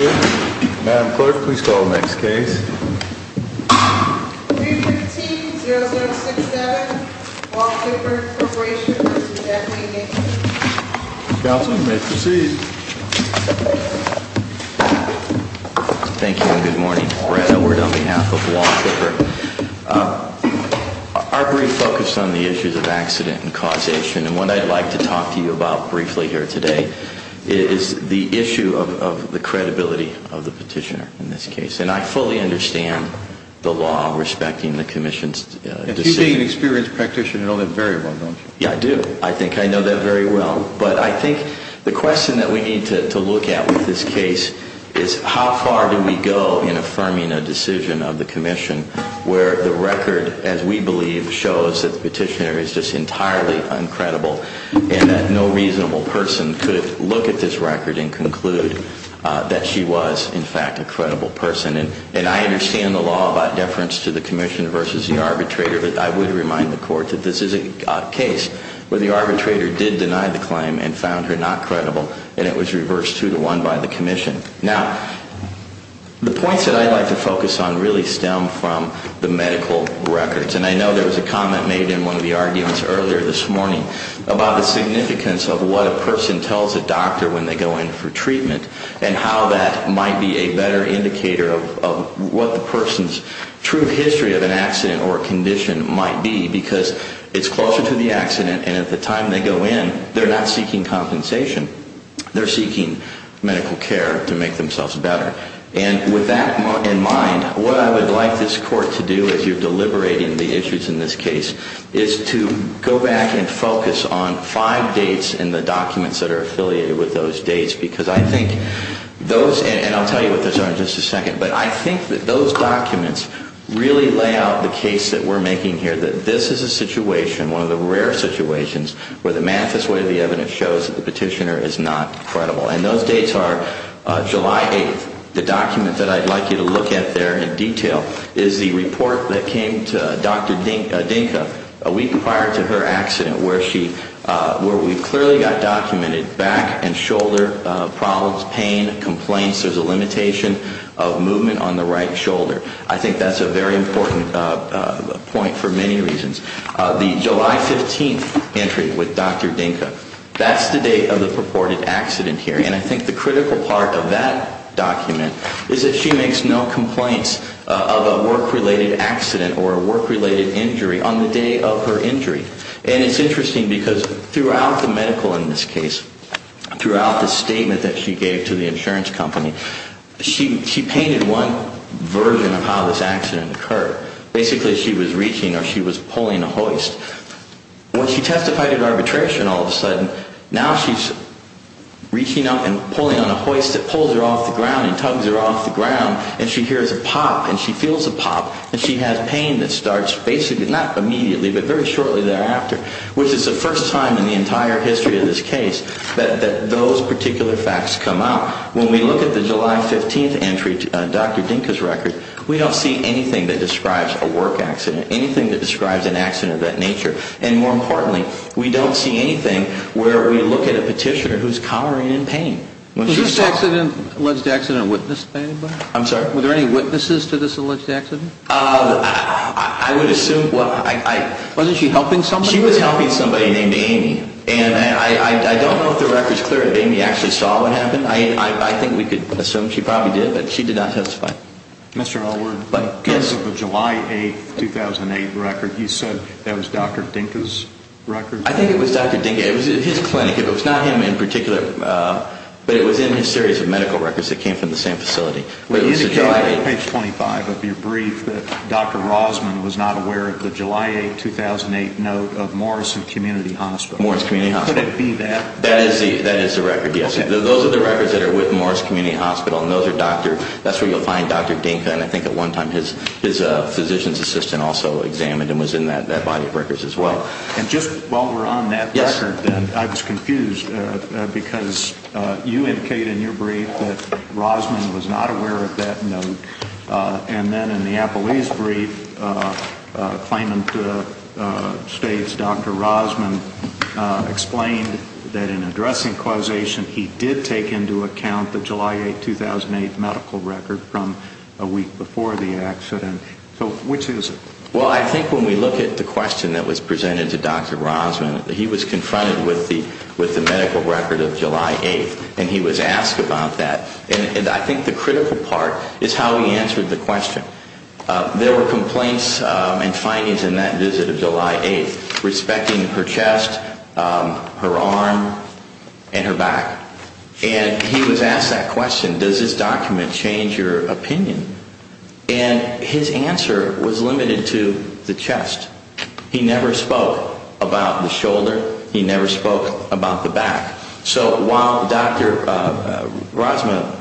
Madam Clerk, please call the next case. 315-0067, Wall Clipper Corporation v. Jack Lee Hickman Counselor, you may proceed. Thank you and good morning. Brad Edward on behalf of Wall Clipper. Our brief focused on the issues of accident and causation. And what I'd like to talk to you about briefly here today is the issue of the credibility of the petitioner in this case. And I fully understand the law respecting the Commission's decision. And you being an experienced practitioner, you know that very well, don't you? Yeah, I do. I think I know that very well. But I think the question that we need to look at with this case is how far do we go in affirming a decision of the Commission where the record, as we believe, shows that the petitioner is just entirely uncredible and that no reasonable person could look at this record and conclude that she was, in fact, a credible person. And I understand the law about deference to the Commission versus the arbitrator. But I would remind the Court that this is a case where the arbitrator did deny the claim and found her not credible, and it was reversed 2-1 by the Commission. Now, the points that I'd like to focus on really stem from the medical records. And I know there was a comment made in one of the arguments earlier this morning about the significance of what a person tells a doctor when they go in for treatment and how that might be a better indicator of what the person's true history of an accident or condition might be because it's closer to the accident, and at the time they go in, they're not seeking compensation. They're seeking medical care to make themselves better. And with that in mind, what I would like this Court to do as you're deliberating the issues in this case is to go back and focus on five dates in the documents that are affiliated with those dates because I think those, and I'll tell you what those are in just a second, but I think that those documents really lay out the case that we're making here, that this is a situation, one of the rare situations, where the manifest way of the evidence shows that the petitioner is not credible. And those dates are July 8th. The document that I'd like you to look at there in detail is the report that came to Dr. Dinka a week prior to her accident where we clearly got documented back and shoulder problems, pain, complaints. There's a limitation of movement on the right shoulder. I think that's a very important point for many reasons. The July 15th entry with Dr. Dinka, that's the date of the purported accident here. And I think the critical part of that document is that she makes no complaints of a work-related accident or a work-related injury on the day of her injury. And it's interesting because throughout the medical in this case, throughout the statement that she gave to the insurance company, she painted one version of how this accident occurred. Basically, she was reaching or she was pulling a hoist. When she testified at arbitration all of a sudden, now she's reaching up and pulling on a hoist that pulls her off the ground and tugs her off the ground. And she hears a pop and she feels a pop. And she has pain that starts basically not immediately but very shortly thereafter, which is the first time in the entire history of this case that those particular facts come out. Now, when we look at the July 15th entry, Dr. Dinka's record, we don't see anything that describes a work accident, anything that describes an accident of that nature. And more importantly, we don't see anything where we look at a petitioner who's collaring in pain. Was this alleged accident witnessed by anybody? I'm sorry? Were there any witnesses to this alleged accident? I would assume. Wasn't she helping somebody? She was helping somebody named Amy. And I don't know if the record's clear that Amy actually saw what happened. I think we could assume she probably did, but she did not testify. Mr. Allward, because of the July 8th, 2008 record, you said that was Dr. Dinka's record? I think it was Dr. Dinka. It was at his clinic. It was not him in particular, but it was in his series of medical records that came from the same facility. Would you indicate on page 25 of your brief that Dr. Rosman was not aware of the July 8th, 2008 note of Morrison Community Hospital? Would it be that? That is the record, yes. Those are the records that are with Morris Community Hospital, and those are Dr. That's where you'll find Dr. Dinka. And I think at one time his physician's assistant also examined and was in that body of records as well. And just while we're on that record, then, I was confused because you indicate in your brief that Rosman was not aware of that note. And then in the Appleby's brief, Claimant states Dr. Rosman explained that in addressing causation, he did take into account the July 8th, 2008 medical record from a week before the accident. So which is it? Well, I think when we look at the question that was presented to Dr. Rosman, he was confronted with the medical record of July 8th, and he was asked about that. And I think the critical part is how he answered the question. There were complaints and findings in that visit of July 8th, respecting her chest, her arm, and her back. And he was asked that question, does this document change your opinion? And his answer was limited to the chest. He never spoke about the shoulder. He never spoke about the back. So while Dr. Rosman,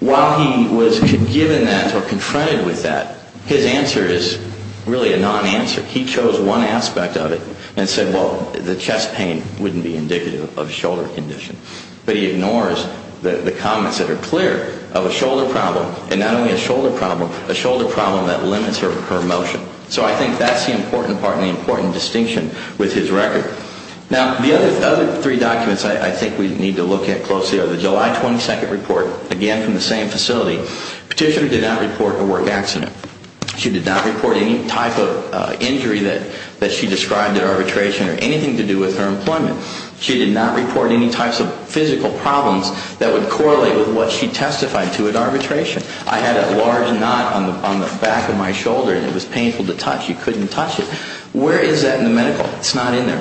while he was given that or confronted with that, his answer is really a non-answer. He chose one aspect of it and said, well, the chest pain wouldn't be indicative of shoulder condition. But he ignores the comments that are clear of a shoulder problem, and not only a shoulder problem, a shoulder problem that limits her motion. So I think that's the important part and the important distinction with his record. Now, the other three documents I think we need to look at closely are the July 22nd report, again from the same facility. Petitioner did not report a work accident. She did not report any type of injury that she described at arbitration or anything to do with her employment. She did not report any types of physical problems that would correlate with what she testified to at arbitration. I had a large knot on the back of my shoulder, and it was painful to touch. You couldn't touch it. Where is that in the medical? It's not in there.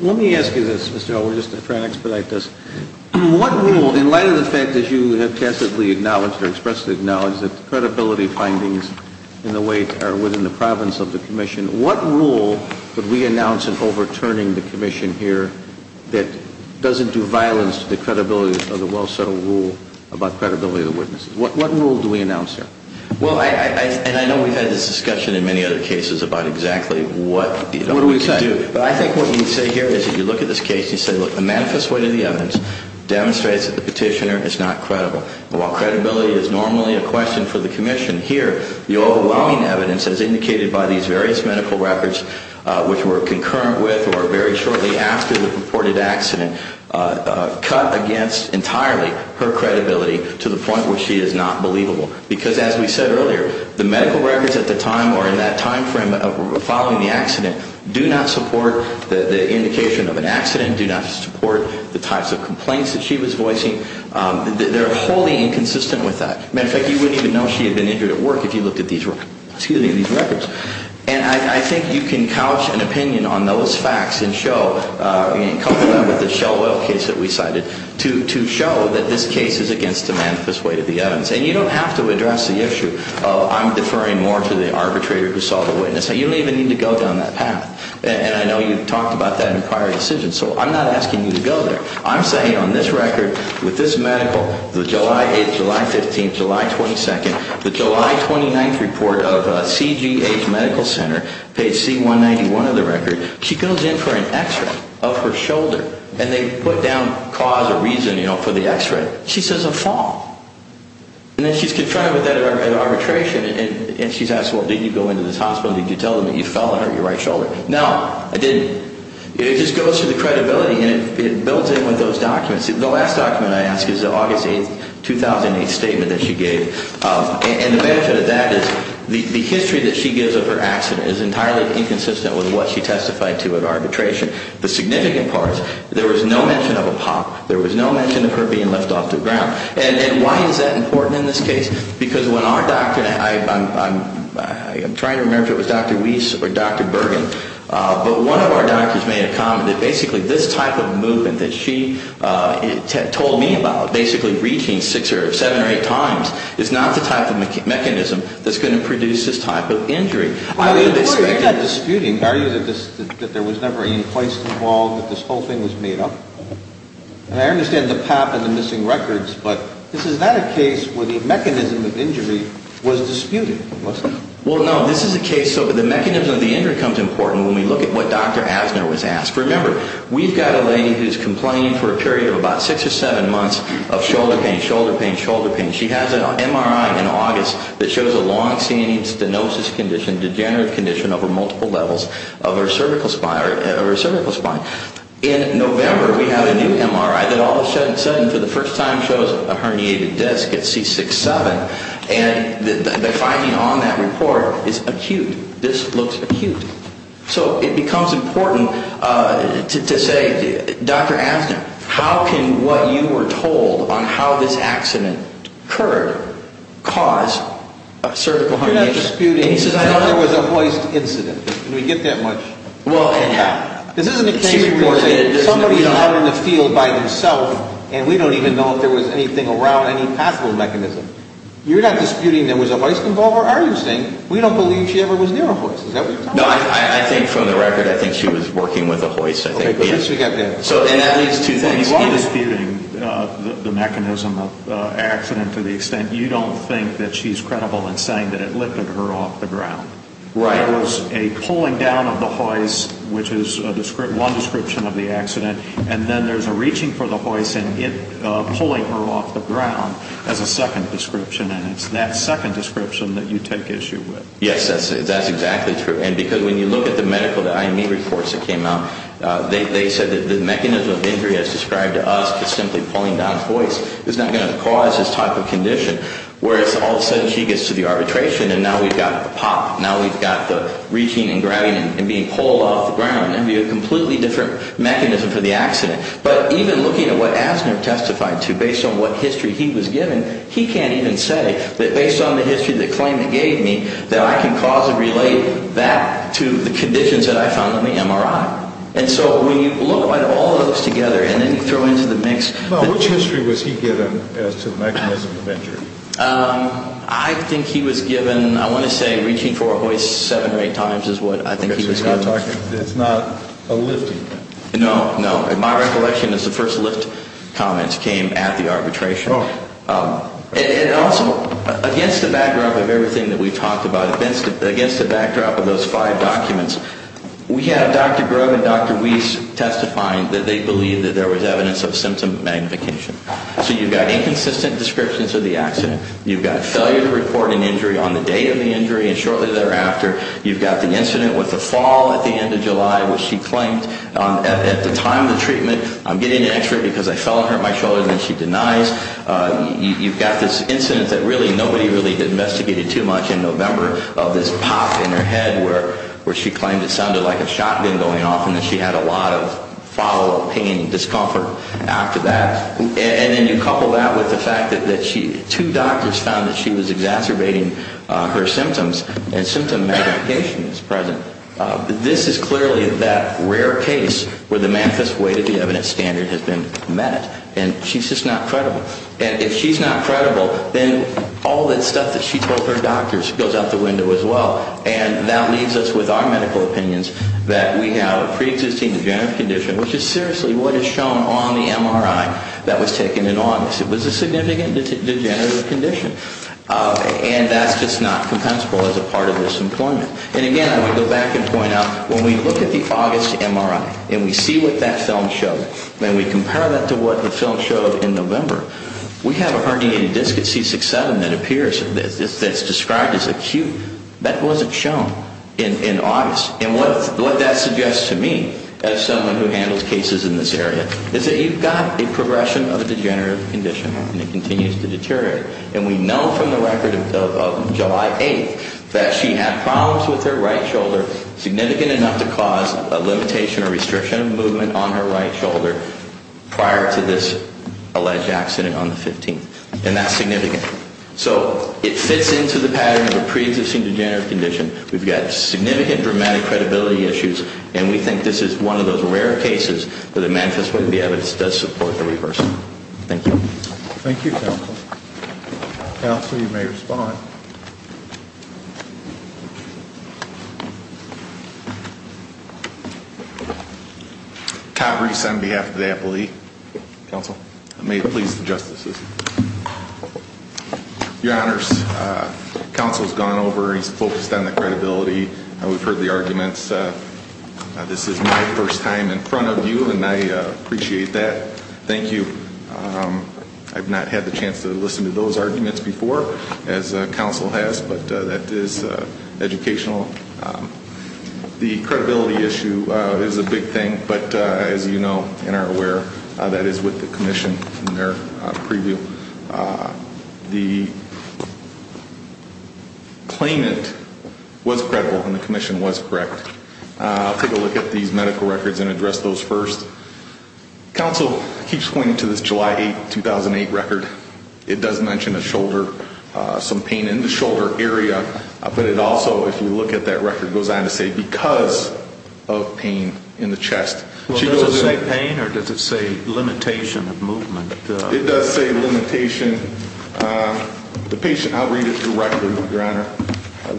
Let me ask you this, Mr. Elwood, just to try to expedite this. What rule, in light of the fact that you have passively acknowledged or expressly acknowledged that the credibility findings in the weight are within the province of the commission, what rule would we announce in overturning the commission here that doesn't do violence to the credibility of the well-settled rule about credibility of the witnesses? What rule do we announce here? Well, and I know we've had this discussion in many other cases about exactly what we should do. What do we say? But I think what you say here is that you look at this case and you say, look, the manifest weight of the evidence demonstrates that the petitioner is not credible. While credibility is normally a question for the commission here, the overwhelming evidence, as indicated by these various medical records, which were concurrent with or very shortly after the reported accident, cut against entirely her credibility to the point where she is not believable. Because as we said earlier, the medical records at the time or in that time frame following the accident do not support the indication of an accident, do not support the types of complaints that she was voicing. They're wholly inconsistent with that. As a matter of fact, you wouldn't even know she had been injured at work if you looked at these records. And I think you can couch an opinion on those facts and cover them with the Shell Oil case that we cited to show that this case is against the manifest weight of the evidence. And you don't have to address the issue of I'm deferring more to the arbitrator who saw the witness. You don't even need to go down that path. And I know you've talked about that in prior decisions. So I'm not asking you to go there. I'm saying on this record, with this medical, the July 8th, July 15th, July 22nd, the July 29th report of CGH Medical Center, page C191 of the record, she goes in for an X-ray of her shoulder. And they put down cause or reason for the X-ray. She says a fall. And then she's confronted with that at arbitration. And she's asked, well, did you go into this hospital and did you tell them that you fell and hurt your right shoulder? No, I didn't. It just goes through the credibility, and it builds in with those documents. The last document I ask is the August 8th, 2008 statement that she gave. And the benefit of that is the history that she gives of her accident is entirely inconsistent with what she testified to at arbitration. The significant part, there was no mention of a pop. There was no mention of her being left off the ground. And why is that important in this case? Because when our doctor, I'm trying to remember if it was Dr. Weiss or Dr. Bergen, but one of our doctors made a comment that basically this type of movement that she told me about, basically reaching six or seven or eight times, is not the type of mechanism that's going to produce this type of injury. You're not disputing, are you, that there was never any poise involved, that this whole thing was made up? And I understand the pop and the missing records, but is that a case where the mechanism of injury was disputed? Well, no, this is a case of the mechanism of the injury becomes important when we look at what Dr. Asner was asked. Remember, we've got a lady who's complaining for a period of about six or seven months of shoulder pain, shoulder pain, shoulder pain. She has an MRI in August that shows a long-standing stenosis condition, degenerative condition, over multiple levels of her cervical spine. In November, we have a new MRI that all of a sudden, for the first time, shows a herniated disc at C6-7. And the finding on that report is acute. This looks acute. So it becomes important to say, Dr. Asner, how can what you were told on how this accident occurred cause a cervical herniation? You're not disputing that there was a hoist incident. Can we get that much? This isn't a case where somebody's out in the field by themself and we don't even know if there was anything around, any possible mechanism. You're not disputing there was a hoist involved, are you, saying we don't believe she ever was near a hoist? No, I think from the record, I think she was working with a hoist, I think. Okay, good. So we got that. So, and that means two things. You are disputing the mechanism of the accident to the extent you don't think that she's credible in saying that it lifted her off the ground. Right. There was a pulling down of the hoist, which is one description of the accident, and then there's a reaching for the hoist and it pulling her off the ground as a second description, and it's that second description that you take issue with. Yes, that's exactly true. And because when you look at the medical IME reports that came out, they said that the mechanism of injury as described to us is simply pulling down the hoist. It's not going to cause this type of condition, whereas all of a sudden she gets to the arbitration and now we've got the pop. Now we've got the reaching and grabbing and being pulled off the ground. It would be a completely different mechanism for the accident. But even looking at what Asner testified to, based on what history he was given, he can't even say that based on the history of the claim he gave me that I can cause and relate that to the conditions that I found on the MRI. And so when you look at all of those together and then you throw into the mix. Now, which history was he given as to the mechanism of injury? I think he was given, I want to say, reaching for a hoist seven or eight times is what I think he was given. It's not a lifting. No, no. My recollection is the first lift comments came at the arbitration. And also, against the backdrop of everything that we've talked about, against the backdrop of those five documents, we have Dr. Grove and Dr. Weiss testifying that they believe that there was evidence of symptom magnification. So you've got inconsistent descriptions of the accident. You've got failure to report an injury on the date of the injury and shortly thereafter. You've got the incident with the fall at the end of July, which she claimed at the time of the treatment, I'm getting an X-ray because I fell and hurt my shoulder, and then she denies. You've got this incident that really nobody really investigated too much in November of this pop in her head where she claimed it sounded like a shotgun going off and that she had a lot of follow-up pain and discomfort after that. And then you couple that with the fact that two doctors found that she was exacerbating her symptoms and symptom magnification is present. This is clearly that rare case where the Manifest Way to the Evidence Standard has been met. And she's just not credible. And if she's not credible, then all that stuff that she told her doctors goes out the window as well. And that leaves us with our medical opinions that we have a preexisting degenerative condition, which is seriously what is shown on the MRI that was taken in August. It was a significant degenerative condition. And that's just not compensable as a part of this employment. And, again, I want to go back and point out when we look at the August MRI and we see what that film showed and we compare that to what the film showed in November, we have a herniated disc at C6-7 that appears, that's described as acute. That wasn't shown in August. And what that suggests to me as someone who handles cases in this area is that you've got a progression of a degenerative condition, and it continues to deteriorate. And we know from the record of July 8th that she had problems with her right shoulder, significant enough to cause a limitation or restriction of movement on her right shoulder prior to this alleged accident on the 15th. And that's significant. So it fits into the pattern of a preexisting degenerative condition. We've got significant dramatic credibility issues. And we think this is one of those rare cases where the Manifest Way to the Evidence does support the reverse. Thank you. Thank you, Counsel. Counsel, you may respond. Todd Reese on behalf of the Appellee. Counsel. May it please the Justices. Your Honors, Counsel's gone over. He's focused on the credibility. We've heard the arguments. This is my first time in front of you, and I appreciate that. Thank you. I've not had the chance to listen to those arguments before, as Counsel has, but that is educational. The credibility issue is a big thing, but as you know and are aware, that is with the Commission in their preview. The claimant was credible, and the Commission was correct. I'll take a look at these medical records and address those first. Counsel keeps pointing to this July 8, 2008 record. It does mention a shoulder, some pain in the shoulder area. But it also, if you look at that record, goes on to say because of pain in the chest. Does it say pain, or does it say limitation of movement? It does say limitation. The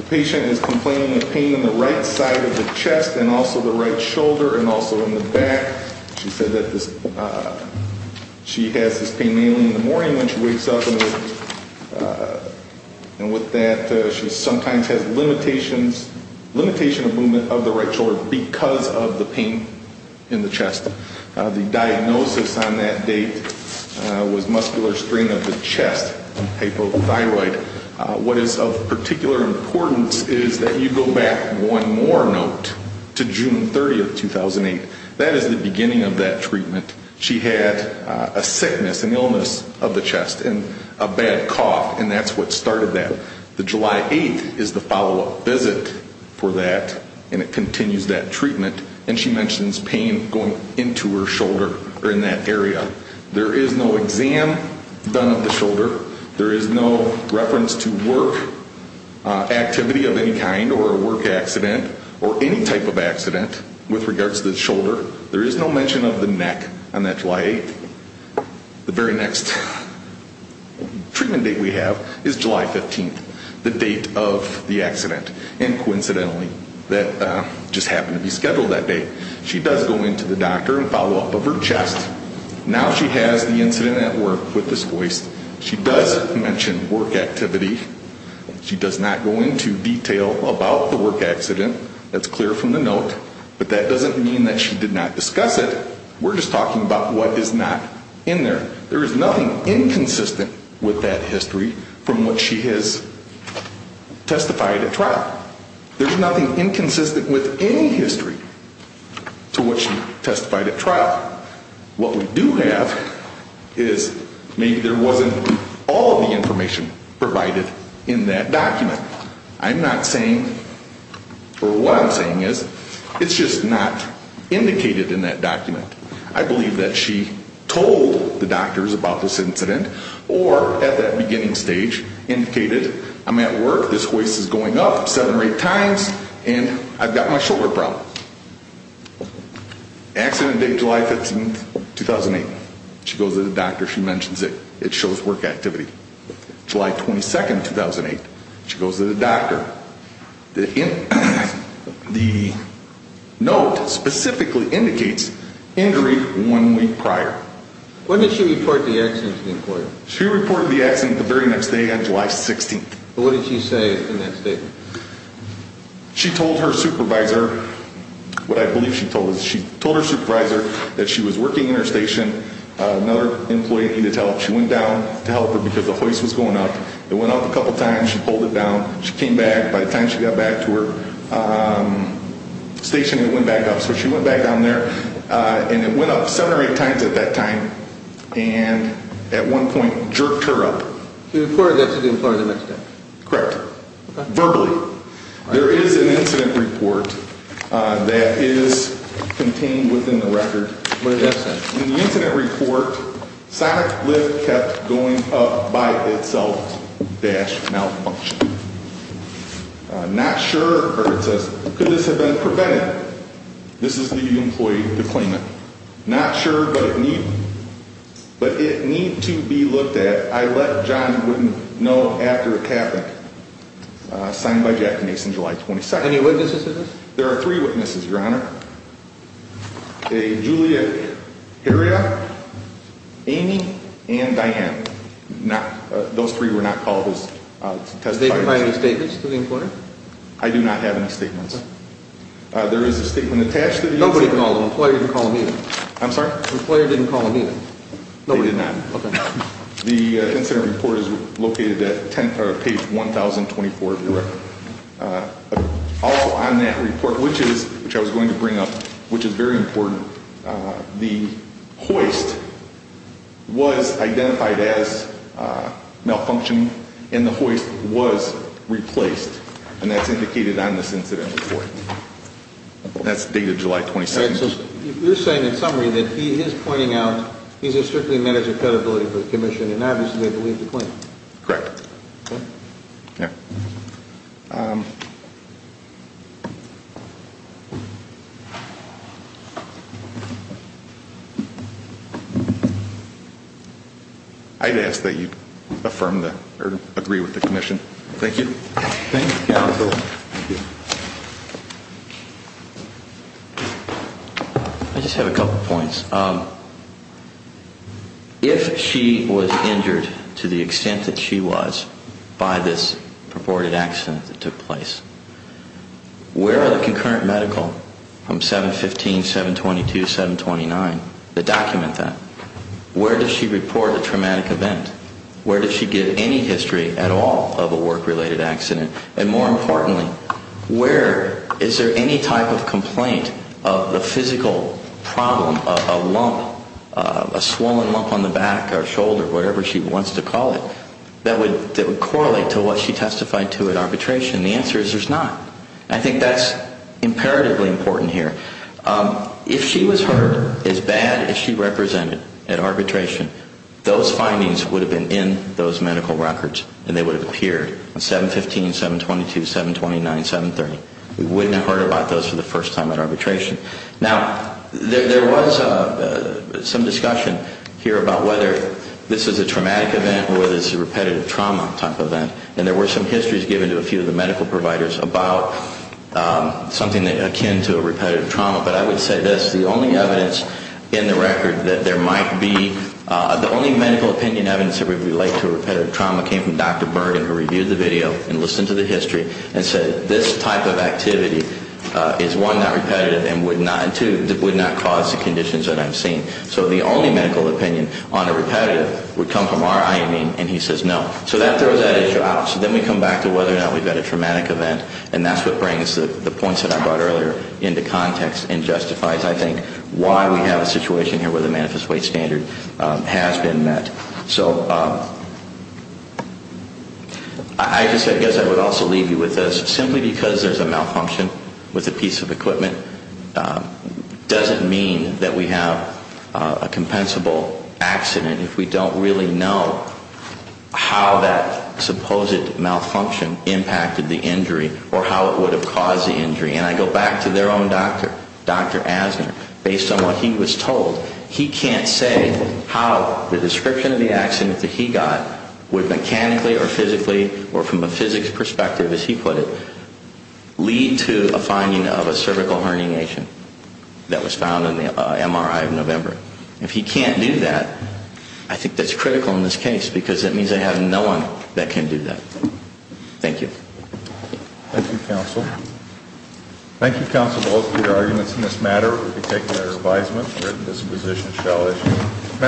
patient is complaining of pain in the right side of the chest and also the right shoulder and also in the back. She said that she has this pain mainly in the morning when she wakes up. And with that, she sometimes has limitations, limitation of movement of the right shoulder because of the pain in the chest. The diagnosis on that date was muscular strain of the chest, hypothyroid. What is of particular importance is that you go back one more note to June 30, 2008. That is the beginning of that treatment. She had a sickness, an illness of the chest and a bad cough, and that's what started that. The July 8 is the follow-up visit for that, and it continues that treatment. And she mentions pain going into her shoulder or in that area. There is no exam done of the shoulder. There is no reference to work activity of any kind or a work accident or any type of accident with regards to the shoulder. There is no mention of the neck on that July 8. The very next treatment date we have is July 15, the date of the accident. And coincidentally, that just happened to be scheduled that day. She does go into the doctor and follow-up of her chest. Now she has the incident at work with this voice. She does mention work activity. She does not go into detail about the work accident. That's clear from the note. But that doesn't mean that she did not discuss it. We're just talking about what is not in there. There is nothing inconsistent with that history from what she has testified at trial. But what we do have is maybe there wasn't all of the information provided in that document. I'm not saying, or what I'm saying is, it's just not indicated in that document. I believe that she told the doctors about this incident or at that beginning stage indicated, I'm at work, this voice is going up seven or eight times, and I've got my shoulder problem. Accident date July 15, 2008. She goes to the doctor. She mentions it. It shows work activity. July 22, 2008. She goes to the doctor. The note specifically indicates injury one week prior. When did she report the accident to the court? She reported the accident the very next day on July 16. What did she say in that statement? She told her supervisor what I believe she told us. She told her supervisor that she was working in her station. Another employee needed help. She went down to help her because the voice was going up. It went up a couple times. She pulled it down. She came back. By the time she got back to her station, it went back up. So she went back down there, and it went up seven or eight times at that time, and at one point jerked her up. She reported that to the employer the next day? Correct. Verbally. There is an incident report that is contained within the record. What does that say? In the incident report, sonic lift kept going up by itself. Dash malfunction. Could this have been prevented? This is the employee's deployment. Not sure, but it needs to be looked at. I let John Wooden know after it happened. Signed by Jackie Mason, July 22nd. Any witnesses to this? There are three witnesses, Your Honor. A Julia Heria, Amy, and Diane. Those three were not called as testifiers. Did they provide any statements to the employer? I do not have any statements. There is a statement attached to the incident report. Nobody called them. Employer didn't call them either. I'm sorry? Employer didn't call them either. They did not. Okay. The incident report is located at page 1024 of your record. All on that report, which I was going to bring up, which is very important, the hoist was identified as malfunctioned and the hoist was replaced. And that's indicated on this incident report. That's the date of July 22nd. You're saying in summary that he is pointing out he's a strictly manager of credibility for the commission and obviously they believe the claim. Correct. I'd ask that you affirm or agree with the commission. Thank you. Thank you, counsel. I just have a couple points. If she was injured to the extent that she was by this purported accident that took place, where are the concurrent medical from 715, 722, 729 that document that? Where does she report a traumatic event? Where does she give any history at all of a work-related accident? And more importantly, where is there any type of complaint of the physical problem of a lump, a swollen lump on the back or shoulder, whatever she wants to call it, that would correlate to what she testified to at arbitration? The answer is there's not. I think that's imperatively important here. If she was hurt as bad as she represented at arbitration, those findings would have been in those medical records and they would have appeared in 715, 722, 729, 730. We wouldn't have heard about those for the first time at arbitration. Now, there was some discussion here about whether this is a traumatic event or whether it's a repetitive trauma type of event, and there were some histories given to a few of the medical providers about something akin to a repetitive trauma, but I would say this, the only evidence in the record that there might be, the only medical opinion evidence that would relate to a repetitive trauma came from Dr. Bergen, who reviewed the video and listened to the history and said this type of activity is, one, not repetitive and, two, would not cause the conditions that I've seen. So the only medical opinion on a repetitive would come from our IME, and he says no. So that throws that issue out. So then we come back to whether or not we've got a traumatic event, and that's what brings the points that I brought earlier into context and justifies, I think, why we have a situation here where the manifest weight standard has been met. So I guess I would also leave you with this. Simply because there's a malfunction with a piece of equipment doesn't mean that we have a compensable accident or how it would have caused the injury. And I go back to their own doctor, Dr. Asner. Based on what he was told, he can't say how the description of the accident that he got would mechanically or physically or from a physics perspective, as he put it, lead to a finding of a cervical herniation that was found in the MRI of November. If he can't do that, I think that's critical in this case because it means they have no one that can do that. Thank you. Thank you, counsel. Thank you, counsel, both for your arguments in this matter. We've taken our advisement. We're in this position to shall issue.